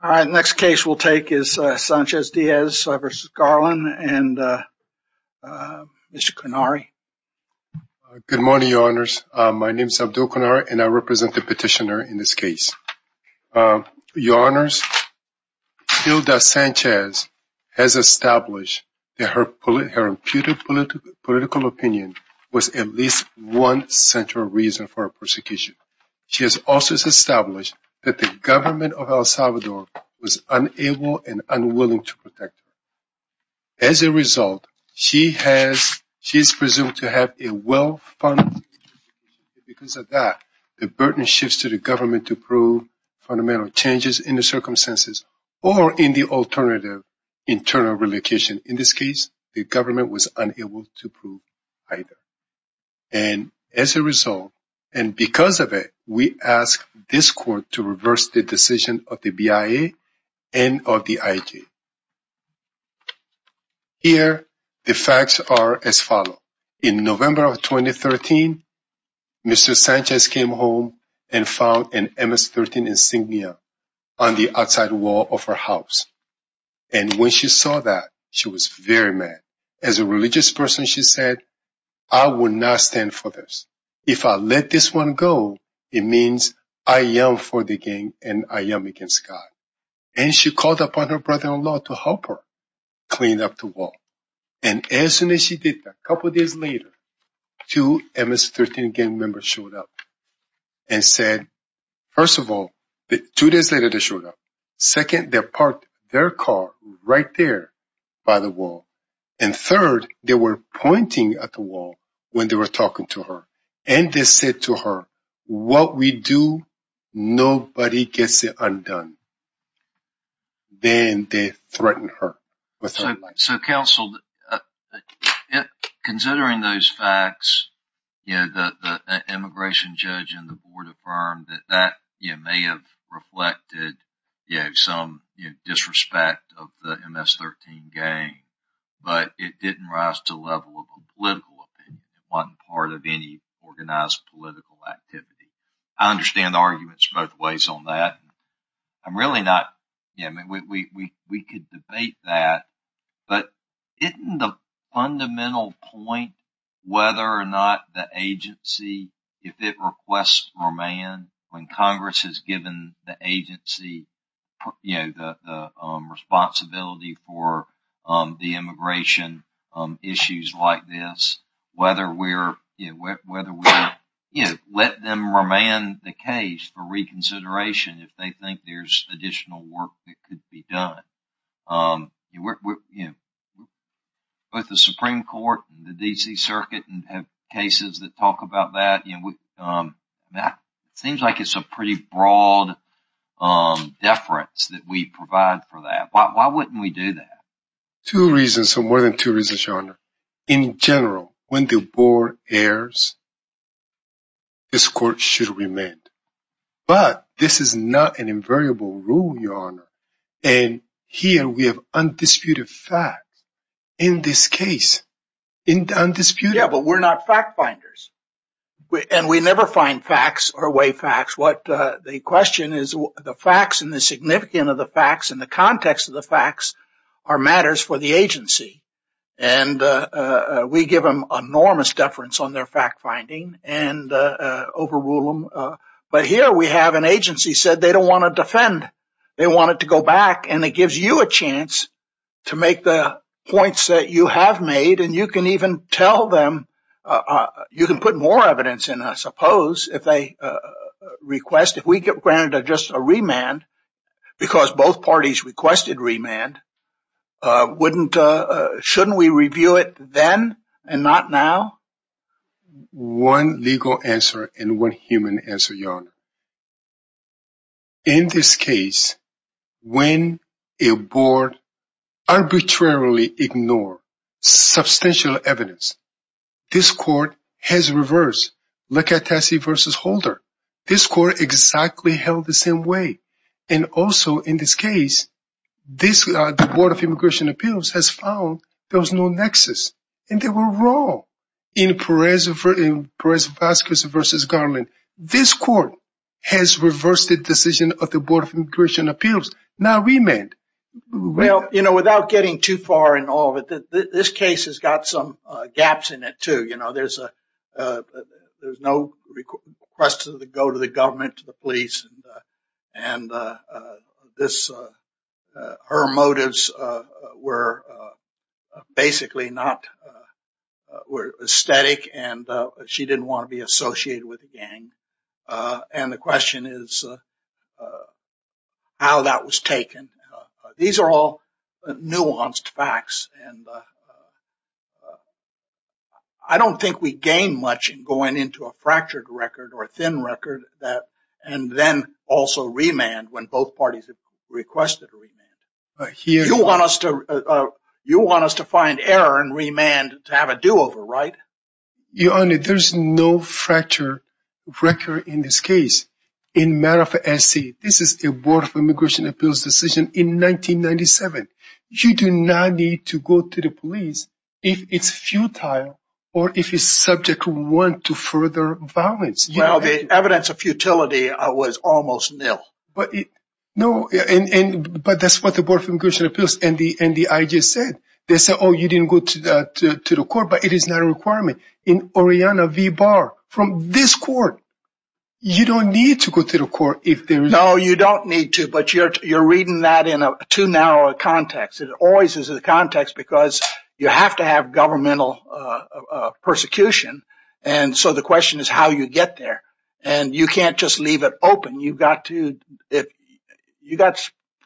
Good morning, Your Honors. My name is Abdul Kanari and I represent the petitioner in this case. Your Honors, Hilda Sanchez has established that her imputed political opinion was at least one central reason for her persecution. She has also established that the government of El Salvador was unable and unwilling to protect her. As a result, she is presumed to have a well-funded education. Because of that, the burden shifts to the government to prove fundamental changes in the circumstances or in the alternative internal relocation. In this case, the government was unable to prove either. And as a result, and because of it, we ask this court to reverse the decision of the BIA and of the IG. Here, the facts are as follows. In November of 2013, Mr. Sanchez came home and found an MS-13 insignia on the outside wall of her house. And when she saw that, she was very mad. As a religious person, she said, I will not stand for this. If I let this one go, it means I am for the gang and I am against God. And she called upon her brother-in-law to help her clean up the wall. And as soon as she did that, a couple of days later, two MS-13 gang members showed up and said, first of all, two days later they showed up. Second, they parked their car right there by the wall. And third, they were pointing at the wall when they were talking to her. And they said to her, what we do, nobody gets it undone. Then they threatened her. So, counsel, considering those facts, the immigration judge and the board affirmed that that may have reflected some disrespect of the MS-13 gang. But it didn't rise to the level of a political opinion. It wasn't part of any organized political activity. I understand arguments both ways on that. We could debate that. But isn't the fundamental point whether or not the agency, if it requests remand, when Congress has given the agency the responsibility for the immigration issues like this, whether we let them remand the case for reconsideration if they think there's additional work that could be done. Both the Supreme Court and the D.C. Circuit have cases that talk about that. It seems like it's a pretty broad deference that we provide for that. Why wouldn't we do that? In general, when the board errs, this court should remand. But this is not an invariable rule, Your Honor. And here we have undisputed facts in this case. Undisputed. Yeah, but we're not fact finders. And we never find facts or way facts. What the question is, the facts and the significance of the facts and the context of the facts are matters for the agency. And we give them enormous deference on their fact finding and overrule them. But here we have an agency said they don't want to defend. They want it to go back. And it gives you a chance to make the points that you have made. And you can even tell them you can put more evidence in, I suppose, if they request. If we get granted just a remand because both parties requested remand, shouldn't we review it then and not now? One legal answer and one human answer, Your Honor. In this case, when a board arbitrarily ignored substantial evidence, this court has reversed. Look at Tassie v. Holder. This court exactly held the same way. And also in this case, the Board of Immigration Appeals has found there was no nexus. And they were wrong in Perez-Vasquez v. Garland. This court has reversed the decision of the Board of Immigration Appeals. Not remand. Well, you know, without getting too far in all of it, this case has got some gaps in it, too. You know, there's no request to go to the government, to the police. And her motives were basically not aesthetic, and she didn't want to be associated with the gang. And the question is how that was taken. These are all nuanced facts. And I don't think we gain much in going into a fractured record or a thin record and then also remand when both parties have requested a remand. You want us to find error and remand to have a do-over, right? Your Honor, there's no fracture record in this case. This is a Board of Immigration Appeals decision in 1997. You do not need to go to the police if it's futile or if it's subject to want to further violence. Well, the evidence of futility was almost nil. No, but that's what the Board of Immigration Appeals and the IG said. They said, oh, you didn't go to the court, but it is not a requirement. From this court. You don't need to go to the court. No, you don't need to. But you're reading that in a too narrow a context. It always is a context because you have to have governmental persecution. And so the question is how you get there. And you can't just leave it open. You've got to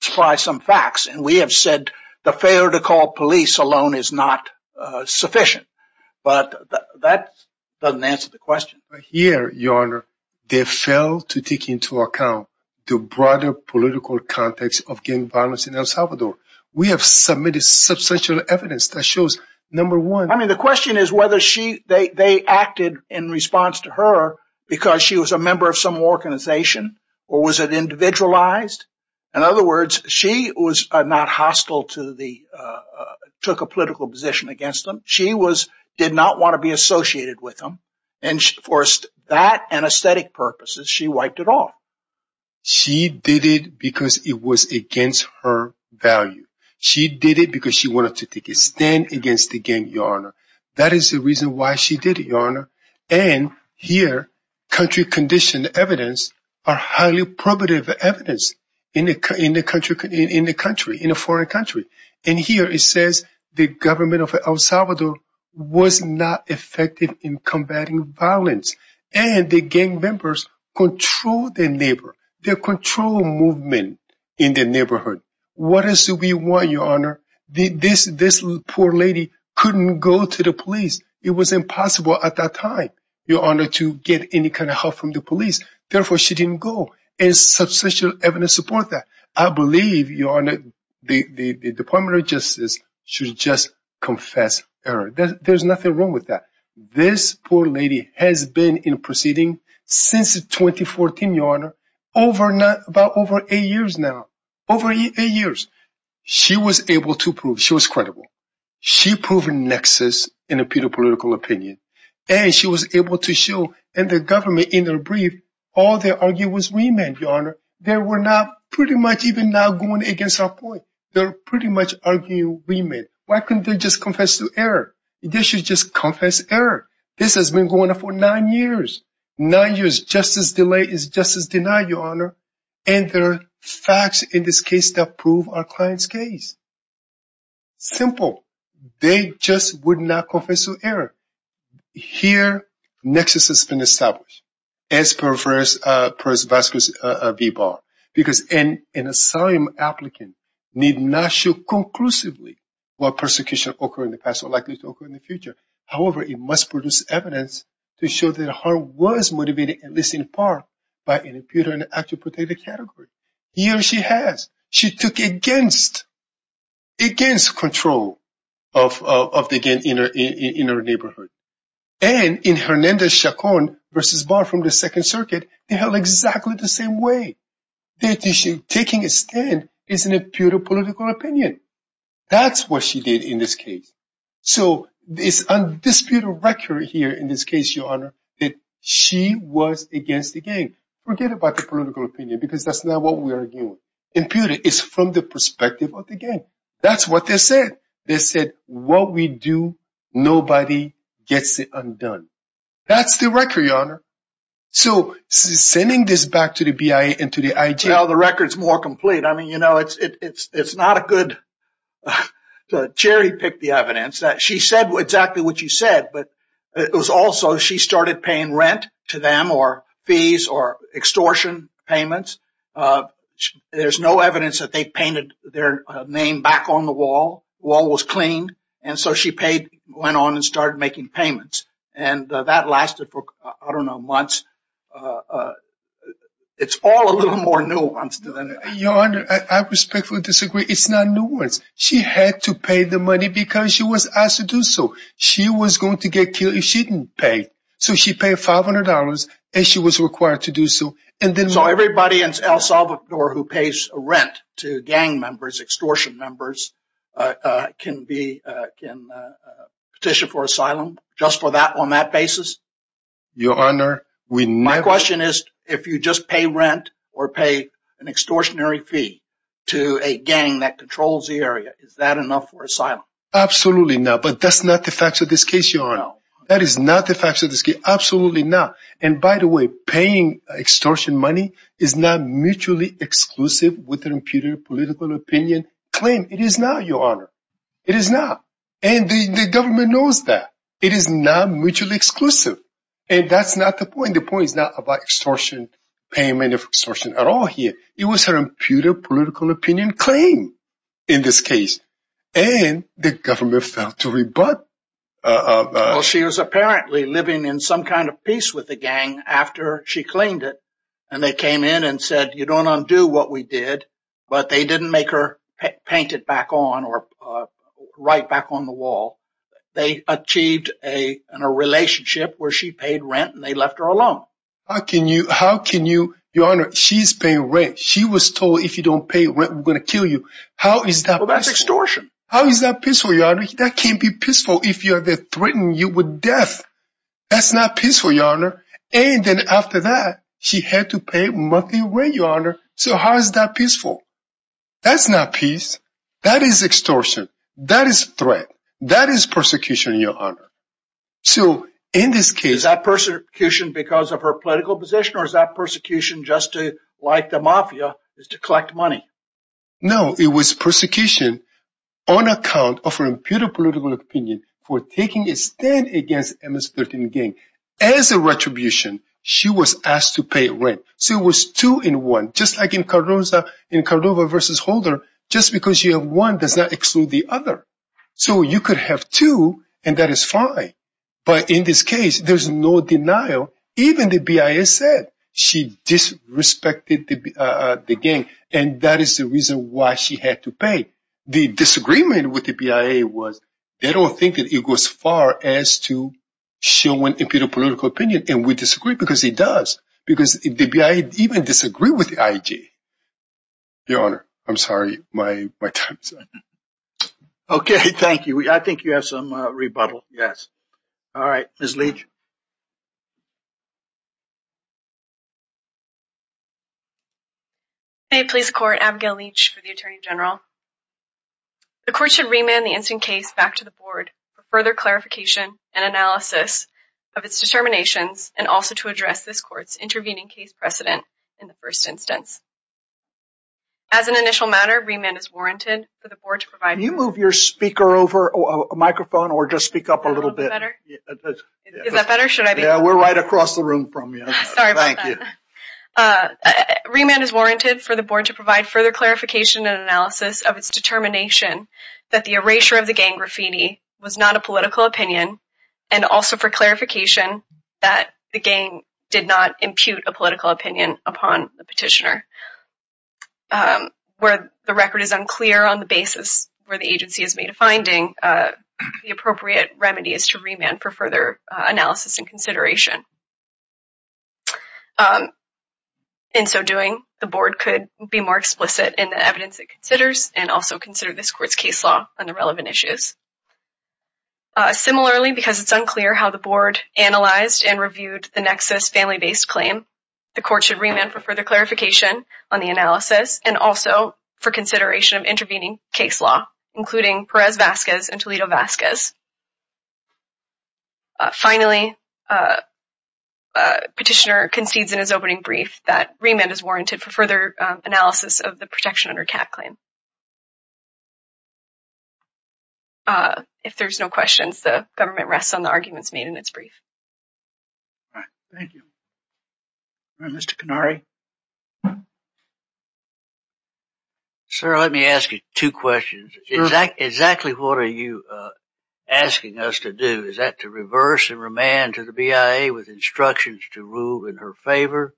try some facts. And we have said the failure to call police alone is not sufficient. But that doesn't answer the question. Here, Your Honor, they failed to take into account the broader political context of gang violence in El Salvador. We have submitted substantial evidence that shows, number one. I mean, the question is whether they acted in response to her because she was a member of some organization. Or was it individualized? In other words, she was not hostile to the took a political position against them. She did not want to be associated with them. And for that and aesthetic purposes, she wiped it off. She did it because it was against her value. She did it because she wanted to take a stand against the gang, Your Honor. That is the reason why she did it, Your Honor. And here, country-conditioned evidence are highly probative evidence in the country, in a foreign country. And here it says the government of El Salvador was not effective in combating violence. And the gang members controlled their neighbor. They controlled movement in the neighborhood. What else do we want, Your Honor? This poor lady couldn't go to the police. It was impossible at that time, Your Honor, to get any kind of help from the police. Therefore, she didn't go. And substantial evidence supports that. I believe, Your Honor, the Department of Justice should just confess her. There's nothing wrong with that. This poor lady has been in proceedings since 2014, Your Honor, about over eight years now. Over eight years. She was able to prove. She was credible. She proved nexus in a political opinion. And she was able to show in the government in her brief all the arguments we made, Your Honor. They were not pretty much even now going against our point. They're pretty much arguing we made. Why couldn't they just confess to error? They should just confess error. This has been going on for nine years. Nine years. Justice delayed is justice denied, Your Honor. And there are facts in this case that prove our client's case. Simple. They just would not confess to error. Here, nexus has been established. As per First Vazquez v. Barr. Because an asylum applicant need not show conclusively what persecution occurred in the past or likely to occur in the future. However, it must produce evidence to show that her was motivated, at least in part, by an imputer in the actual protected category. Here she has. She took against control of the gang in her neighborhood. And in Hernandez-Chacon v. Barr from the Second Circuit, they held exactly the same way. Taking a stand is an imputer political opinion. That's what she did in this case. So it's undisputed record here in this case, Your Honor, that she was against the gang. Forget about the political opinion because that's not what we're arguing. Imputer is from the perspective of the gang. That's what they said. They said, what we do, nobody gets it undone. That's the record, Your Honor. So sending this back to the BIA and to the IG. Well, the record's more complete. I mean, you know, it's not a good – Cherry picked the evidence. She said exactly what you said. But it was also she started paying rent to them or fees or extortion payments. There's no evidence that they painted their name back on the wall. The wall was clean. And so she paid, went on and started making payments. And that lasted for, I don't know, months. It's all a little more nuanced than that. Your Honor, I respectfully disagree. It's not nuanced. She had to pay the money because she was asked to do so. She was going to get killed if she didn't pay. So she paid $500, and she was required to do so. So everybody in El Salvador who pays rent to gang members, extortion members, can petition for asylum just on that basis? Your Honor, we never – My question is, if you just pay rent or pay an extortionary fee to a gang that controls the area, is that enough for asylum? Absolutely not. But that's not the facts of this case, Your Honor. That is not the facts of this case. Absolutely not. And by the way, paying extortion money is not mutually exclusive with an imputed political opinion claim. It is not, Your Honor. It is not. And the government knows that. It is not mutually exclusive. And that's not the point. The point is not about extortion payment or extortion at all here. It was an imputed political opinion claim in this case. And the government failed to rebut. Well, she was apparently living in some kind of peace with the gang after she cleaned it. And they came in and said, you don't undo what we did. But they didn't make her paint it back on or write back on the wall. They achieved a relationship where she paid rent and they left her alone. How can you – Your Honor, she's paying rent. She was told, if you don't pay rent, we're going to kill you. How is that peaceful? Well, that's extortion. How is that peaceful, Your Honor? That can't be peaceful if you are threatened with death. That's not peaceful, Your Honor. And then after that, she had to pay monthly rent, Your Honor. So how is that peaceful? That's not peace. That is extortion. That is threat. That is persecution, Your Honor. So in this case – Is that persecution because of her political position or is that persecution just to, like the mafia, is to collect money? No, it was persecution on account of her impudent political opinion for taking a stand against MS-13 gang. As a retribution, she was asked to pay rent. So it was two in one, just like in Cordova v. Holder, just because you have one does not exclude the other. So you could have two and that is fine. But in this case, there's no denial. Even the BIA said she disrespected the gang. And that is the reason why she had to pay. The disagreement with the BIA was they don't think that it goes far as to show an impudent political opinion. And we disagree because it does. Because the BIA even disagreed with the IJ. Your Honor, I'm sorry. My time is up. Okay, thank you. I think you have some rebuttal. Yes. All right, Ms. Leach. May it please the Court, Abigail Leach for the Attorney General. The Court should remand the incident case back to the Board for further clarification and analysis of its determinations and also to address this Court's intervening case precedent in the first instance. As an initial matter, remand is warranted for the Board to provide— Can you move your speaker over a microphone or just speak up a little bit? Is that better? Yeah, we're right across the room from you. Sorry about that. Thank you. Remand is warranted for the Board to provide further clarification and analysis of its determination that the erasure of the gang graffiti was not a political opinion and also for clarification that the gang did not impute a political opinion upon the petitioner. Where the record is unclear on the basis where the agency has made a finding, the appropriate remedy is to remand for further analysis and consideration. In so doing, the Board could be more explicit in the evidence it considers and also consider this Court's case law on the relevant issues. Similarly, because it's unclear how the Board analyzed and reviewed the nexus family-based claim, the Court should remand for further clarification on the analysis and also for consideration of intervening case law, including Perez-Vazquez and Toledo-Vazquez. Finally, petitioner concedes in his opening brief that remand is warranted for further analysis of the protection under Kat claim. If there's no questions, the government rests on the arguments made in its brief. Thank you. Mr. Canary? Sir, let me ask you two questions. Exactly what are you asking us to do? Is that to reverse and remand to the BIA with instructions to rule in her favor?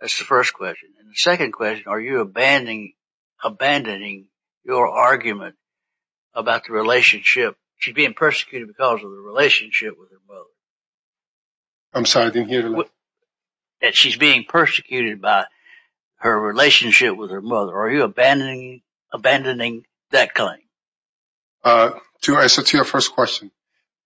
That's the first question. The second question, are you abandoning your argument about the relationship? She's being persecuted because of the relationship with her mother. I'm sorry, I didn't hear the last part. She's being persecuted by her relationship with her mother. Are you abandoning that claim? To answer to your first question,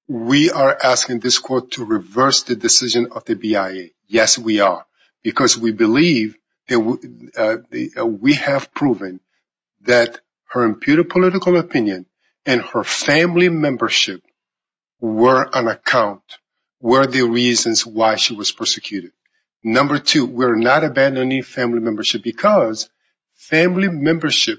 we are asking this Court to reverse the decision of the BIA. Yes, we are. Because we believe that we have proven that her imputed political opinion and her family membership were on account, were the reasons why she was persecuted. Number two, we're not abandoning family membership because family membership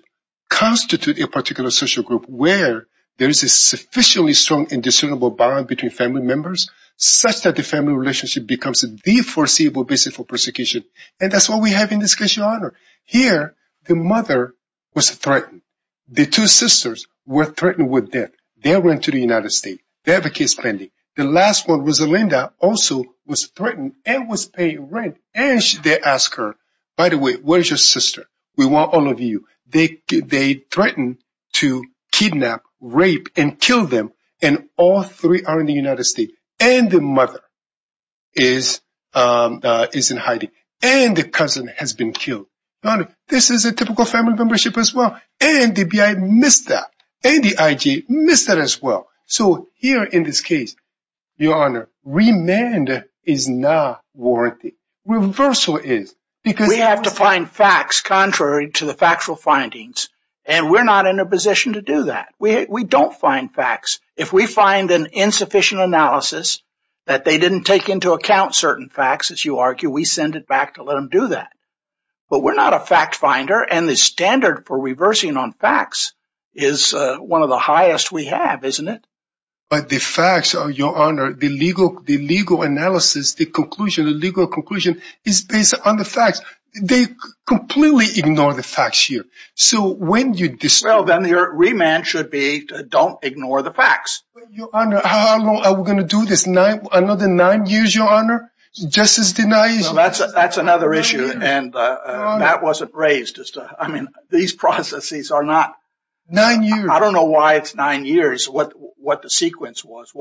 constitutes a particular social group where there is a sufficiently strong and discernible bond between family members such that the family relationship becomes the foreseeable basis for persecution. And that's what we have in this case, Your Honor. Here, the mother was threatened. The two sisters were threatened with death. They went to the United States. They have a case pending. The last one, Rosalinda, also was threatened and was paying rent. And they asked her, by the way, where's your sister? We want all of you. They threatened to kidnap, rape, and kill them. And all three are in the United States. And the mother is in hiding. And the cousin has been killed. Your Honor, this is a typical family membership as well. And the BIA missed that. And the IG missed that as well. So here in this case, Your Honor, remand is not warranted. Reversal is. We have to find facts contrary to the factual findings. And we're not in a position to do that. We don't find facts. If we find an insufficient analysis that they didn't take into account certain facts, as you argue, we send it back to let them do that. But we're not a fact finder. And the standard for reversing on facts is one of the highest we have, isn't it? But the facts, Your Honor, the legal analysis, the conclusion, the legal conclusion is based on the facts. They completely ignore the facts here. Well, then the remand should be don't ignore the facts. Your Honor, how long are we going to do this? Another nine years, Your Honor? Justice denied. That's another issue. And that wasn't raised. I mean, these processes are not. Nine years. I don't know why it's nine years, what the sequence was.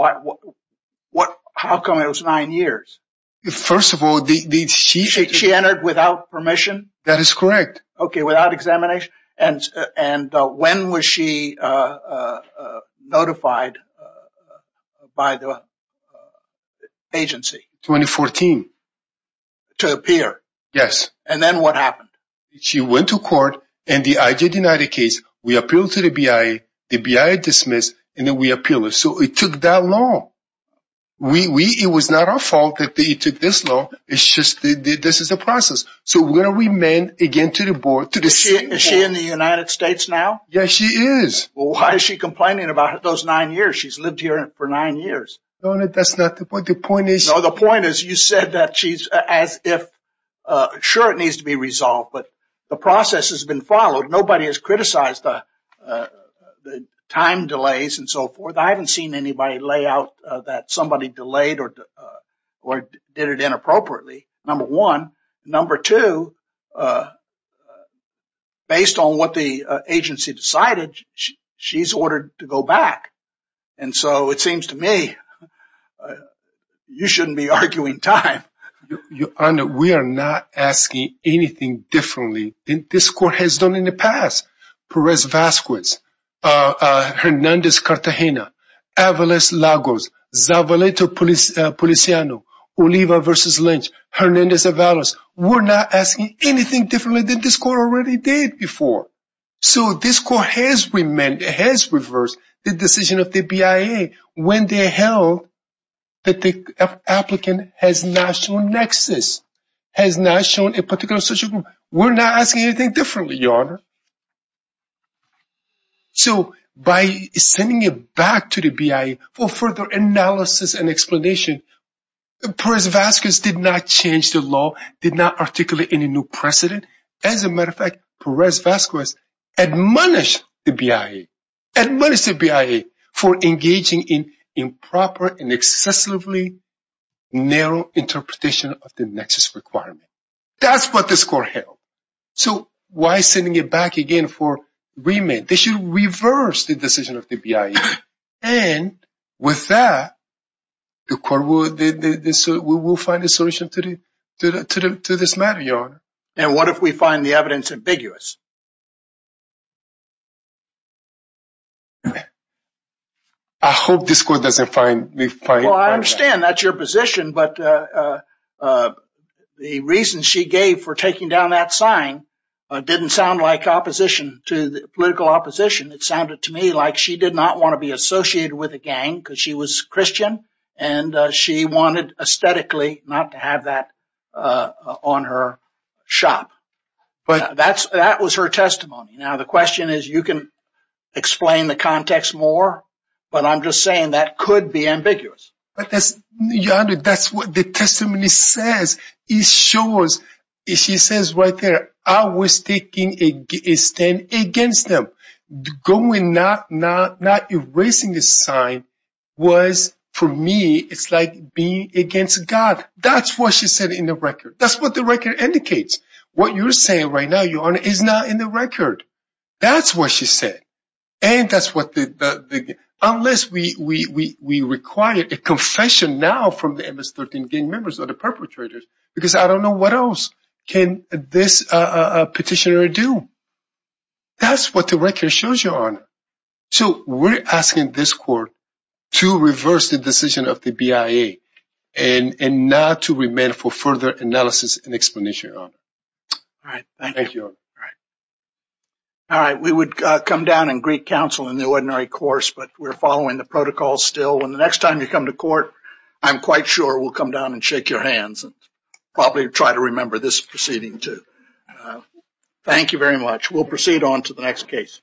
How come it was nine years? First of all, she. She entered without permission? That is correct. Okay, without examination. And when was she notified by the agency? 2014. To appear? Yes. And then what happened? She went to court, and the IJ denied the case. We appealed to the BIA. The BIA dismissed, and then we appealed. So it took that long. It was not our fault that it took this long. It's just this is the process. So we're going to remand again to the board. Is she in the United States now? Yes, she is. Well, why is she complaining about those nine years? She's lived here for nine years. Your Honor, that's not the point. The point is. No, the point is you said that she's as if. Sure, it needs to be resolved, but the process has been followed. Nobody has criticized the time delays and so forth. I haven't seen anybody lay out that somebody delayed or did it inappropriately. Number one. Number two, based on what the agency decided, she's ordered to go back. And so it seems to me you shouldn't be arguing time. Your Honor, we are not asking anything differently. This court has done in the past. Perez-Vasquez, Hernandez-Cartagena, Avalos-Lagos, Zavaleta-Policiano, Oliva v. Lynch, Hernandez-Avalos. We're not asking anything differently than this court already did before. So this court has reversed the decision of the BIA when they held that the applicant has not shown nexus, has not shown a particular social group. We're not asking anything differently, Your Honor. So by sending it back to the BIA for further analysis and explanation, Perez-Vasquez did not change the law, did not articulate any new precedent. As a matter of fact, Perez-Vasquez admonished the BIA, admonished the BIA for engaging in improper and excessively narrow interpretation of the nexus requirement. That's what this court held. So why sending it back again for remand? They should reverse the decision of the BIA. And with that, the court will find a solution to this matter, Your Honor. And what if we find the evidence ambiguous? I hope this court doesn't find that. Well, I understand that's your position, but the reason she gave for taking down that sign didn't sound like opposition to the political opposition. It sounded to me like she did not want to be associated with a gang because she was Christian, and she wanted aesthetically not to have that on her shop. But that was her testimony. Now, the question is you can explain the context more, but I'm just saying that could be ambiguous. Your Honor, that's what the testimony says. It shows, she says right there, I was taking a stand against them. Not erasing the sign was, for me, it's like being against God. That's what she said in the record. That's what the record indicates. What you're saying right now, Your Honor, is not in the record. That's what she said. Unless we require a confession now from the MS-13 gang members or the perpetrators, because I don't know what else can this petitioner do. That's what the record shows, Your Honor. So we're asking this court to reverse the decision of the BIA and not to remain for further analysis and explanation, Your Honor. All right. Thank you. All right. We would come down and greet counsel in the ordinary course, but we're following the protocols still. And the next time you come to court, I'm quite sure we'll come down and shake your hands and probably try to remember this proceeding too. Thank you very much. We'll proceed on to the next case.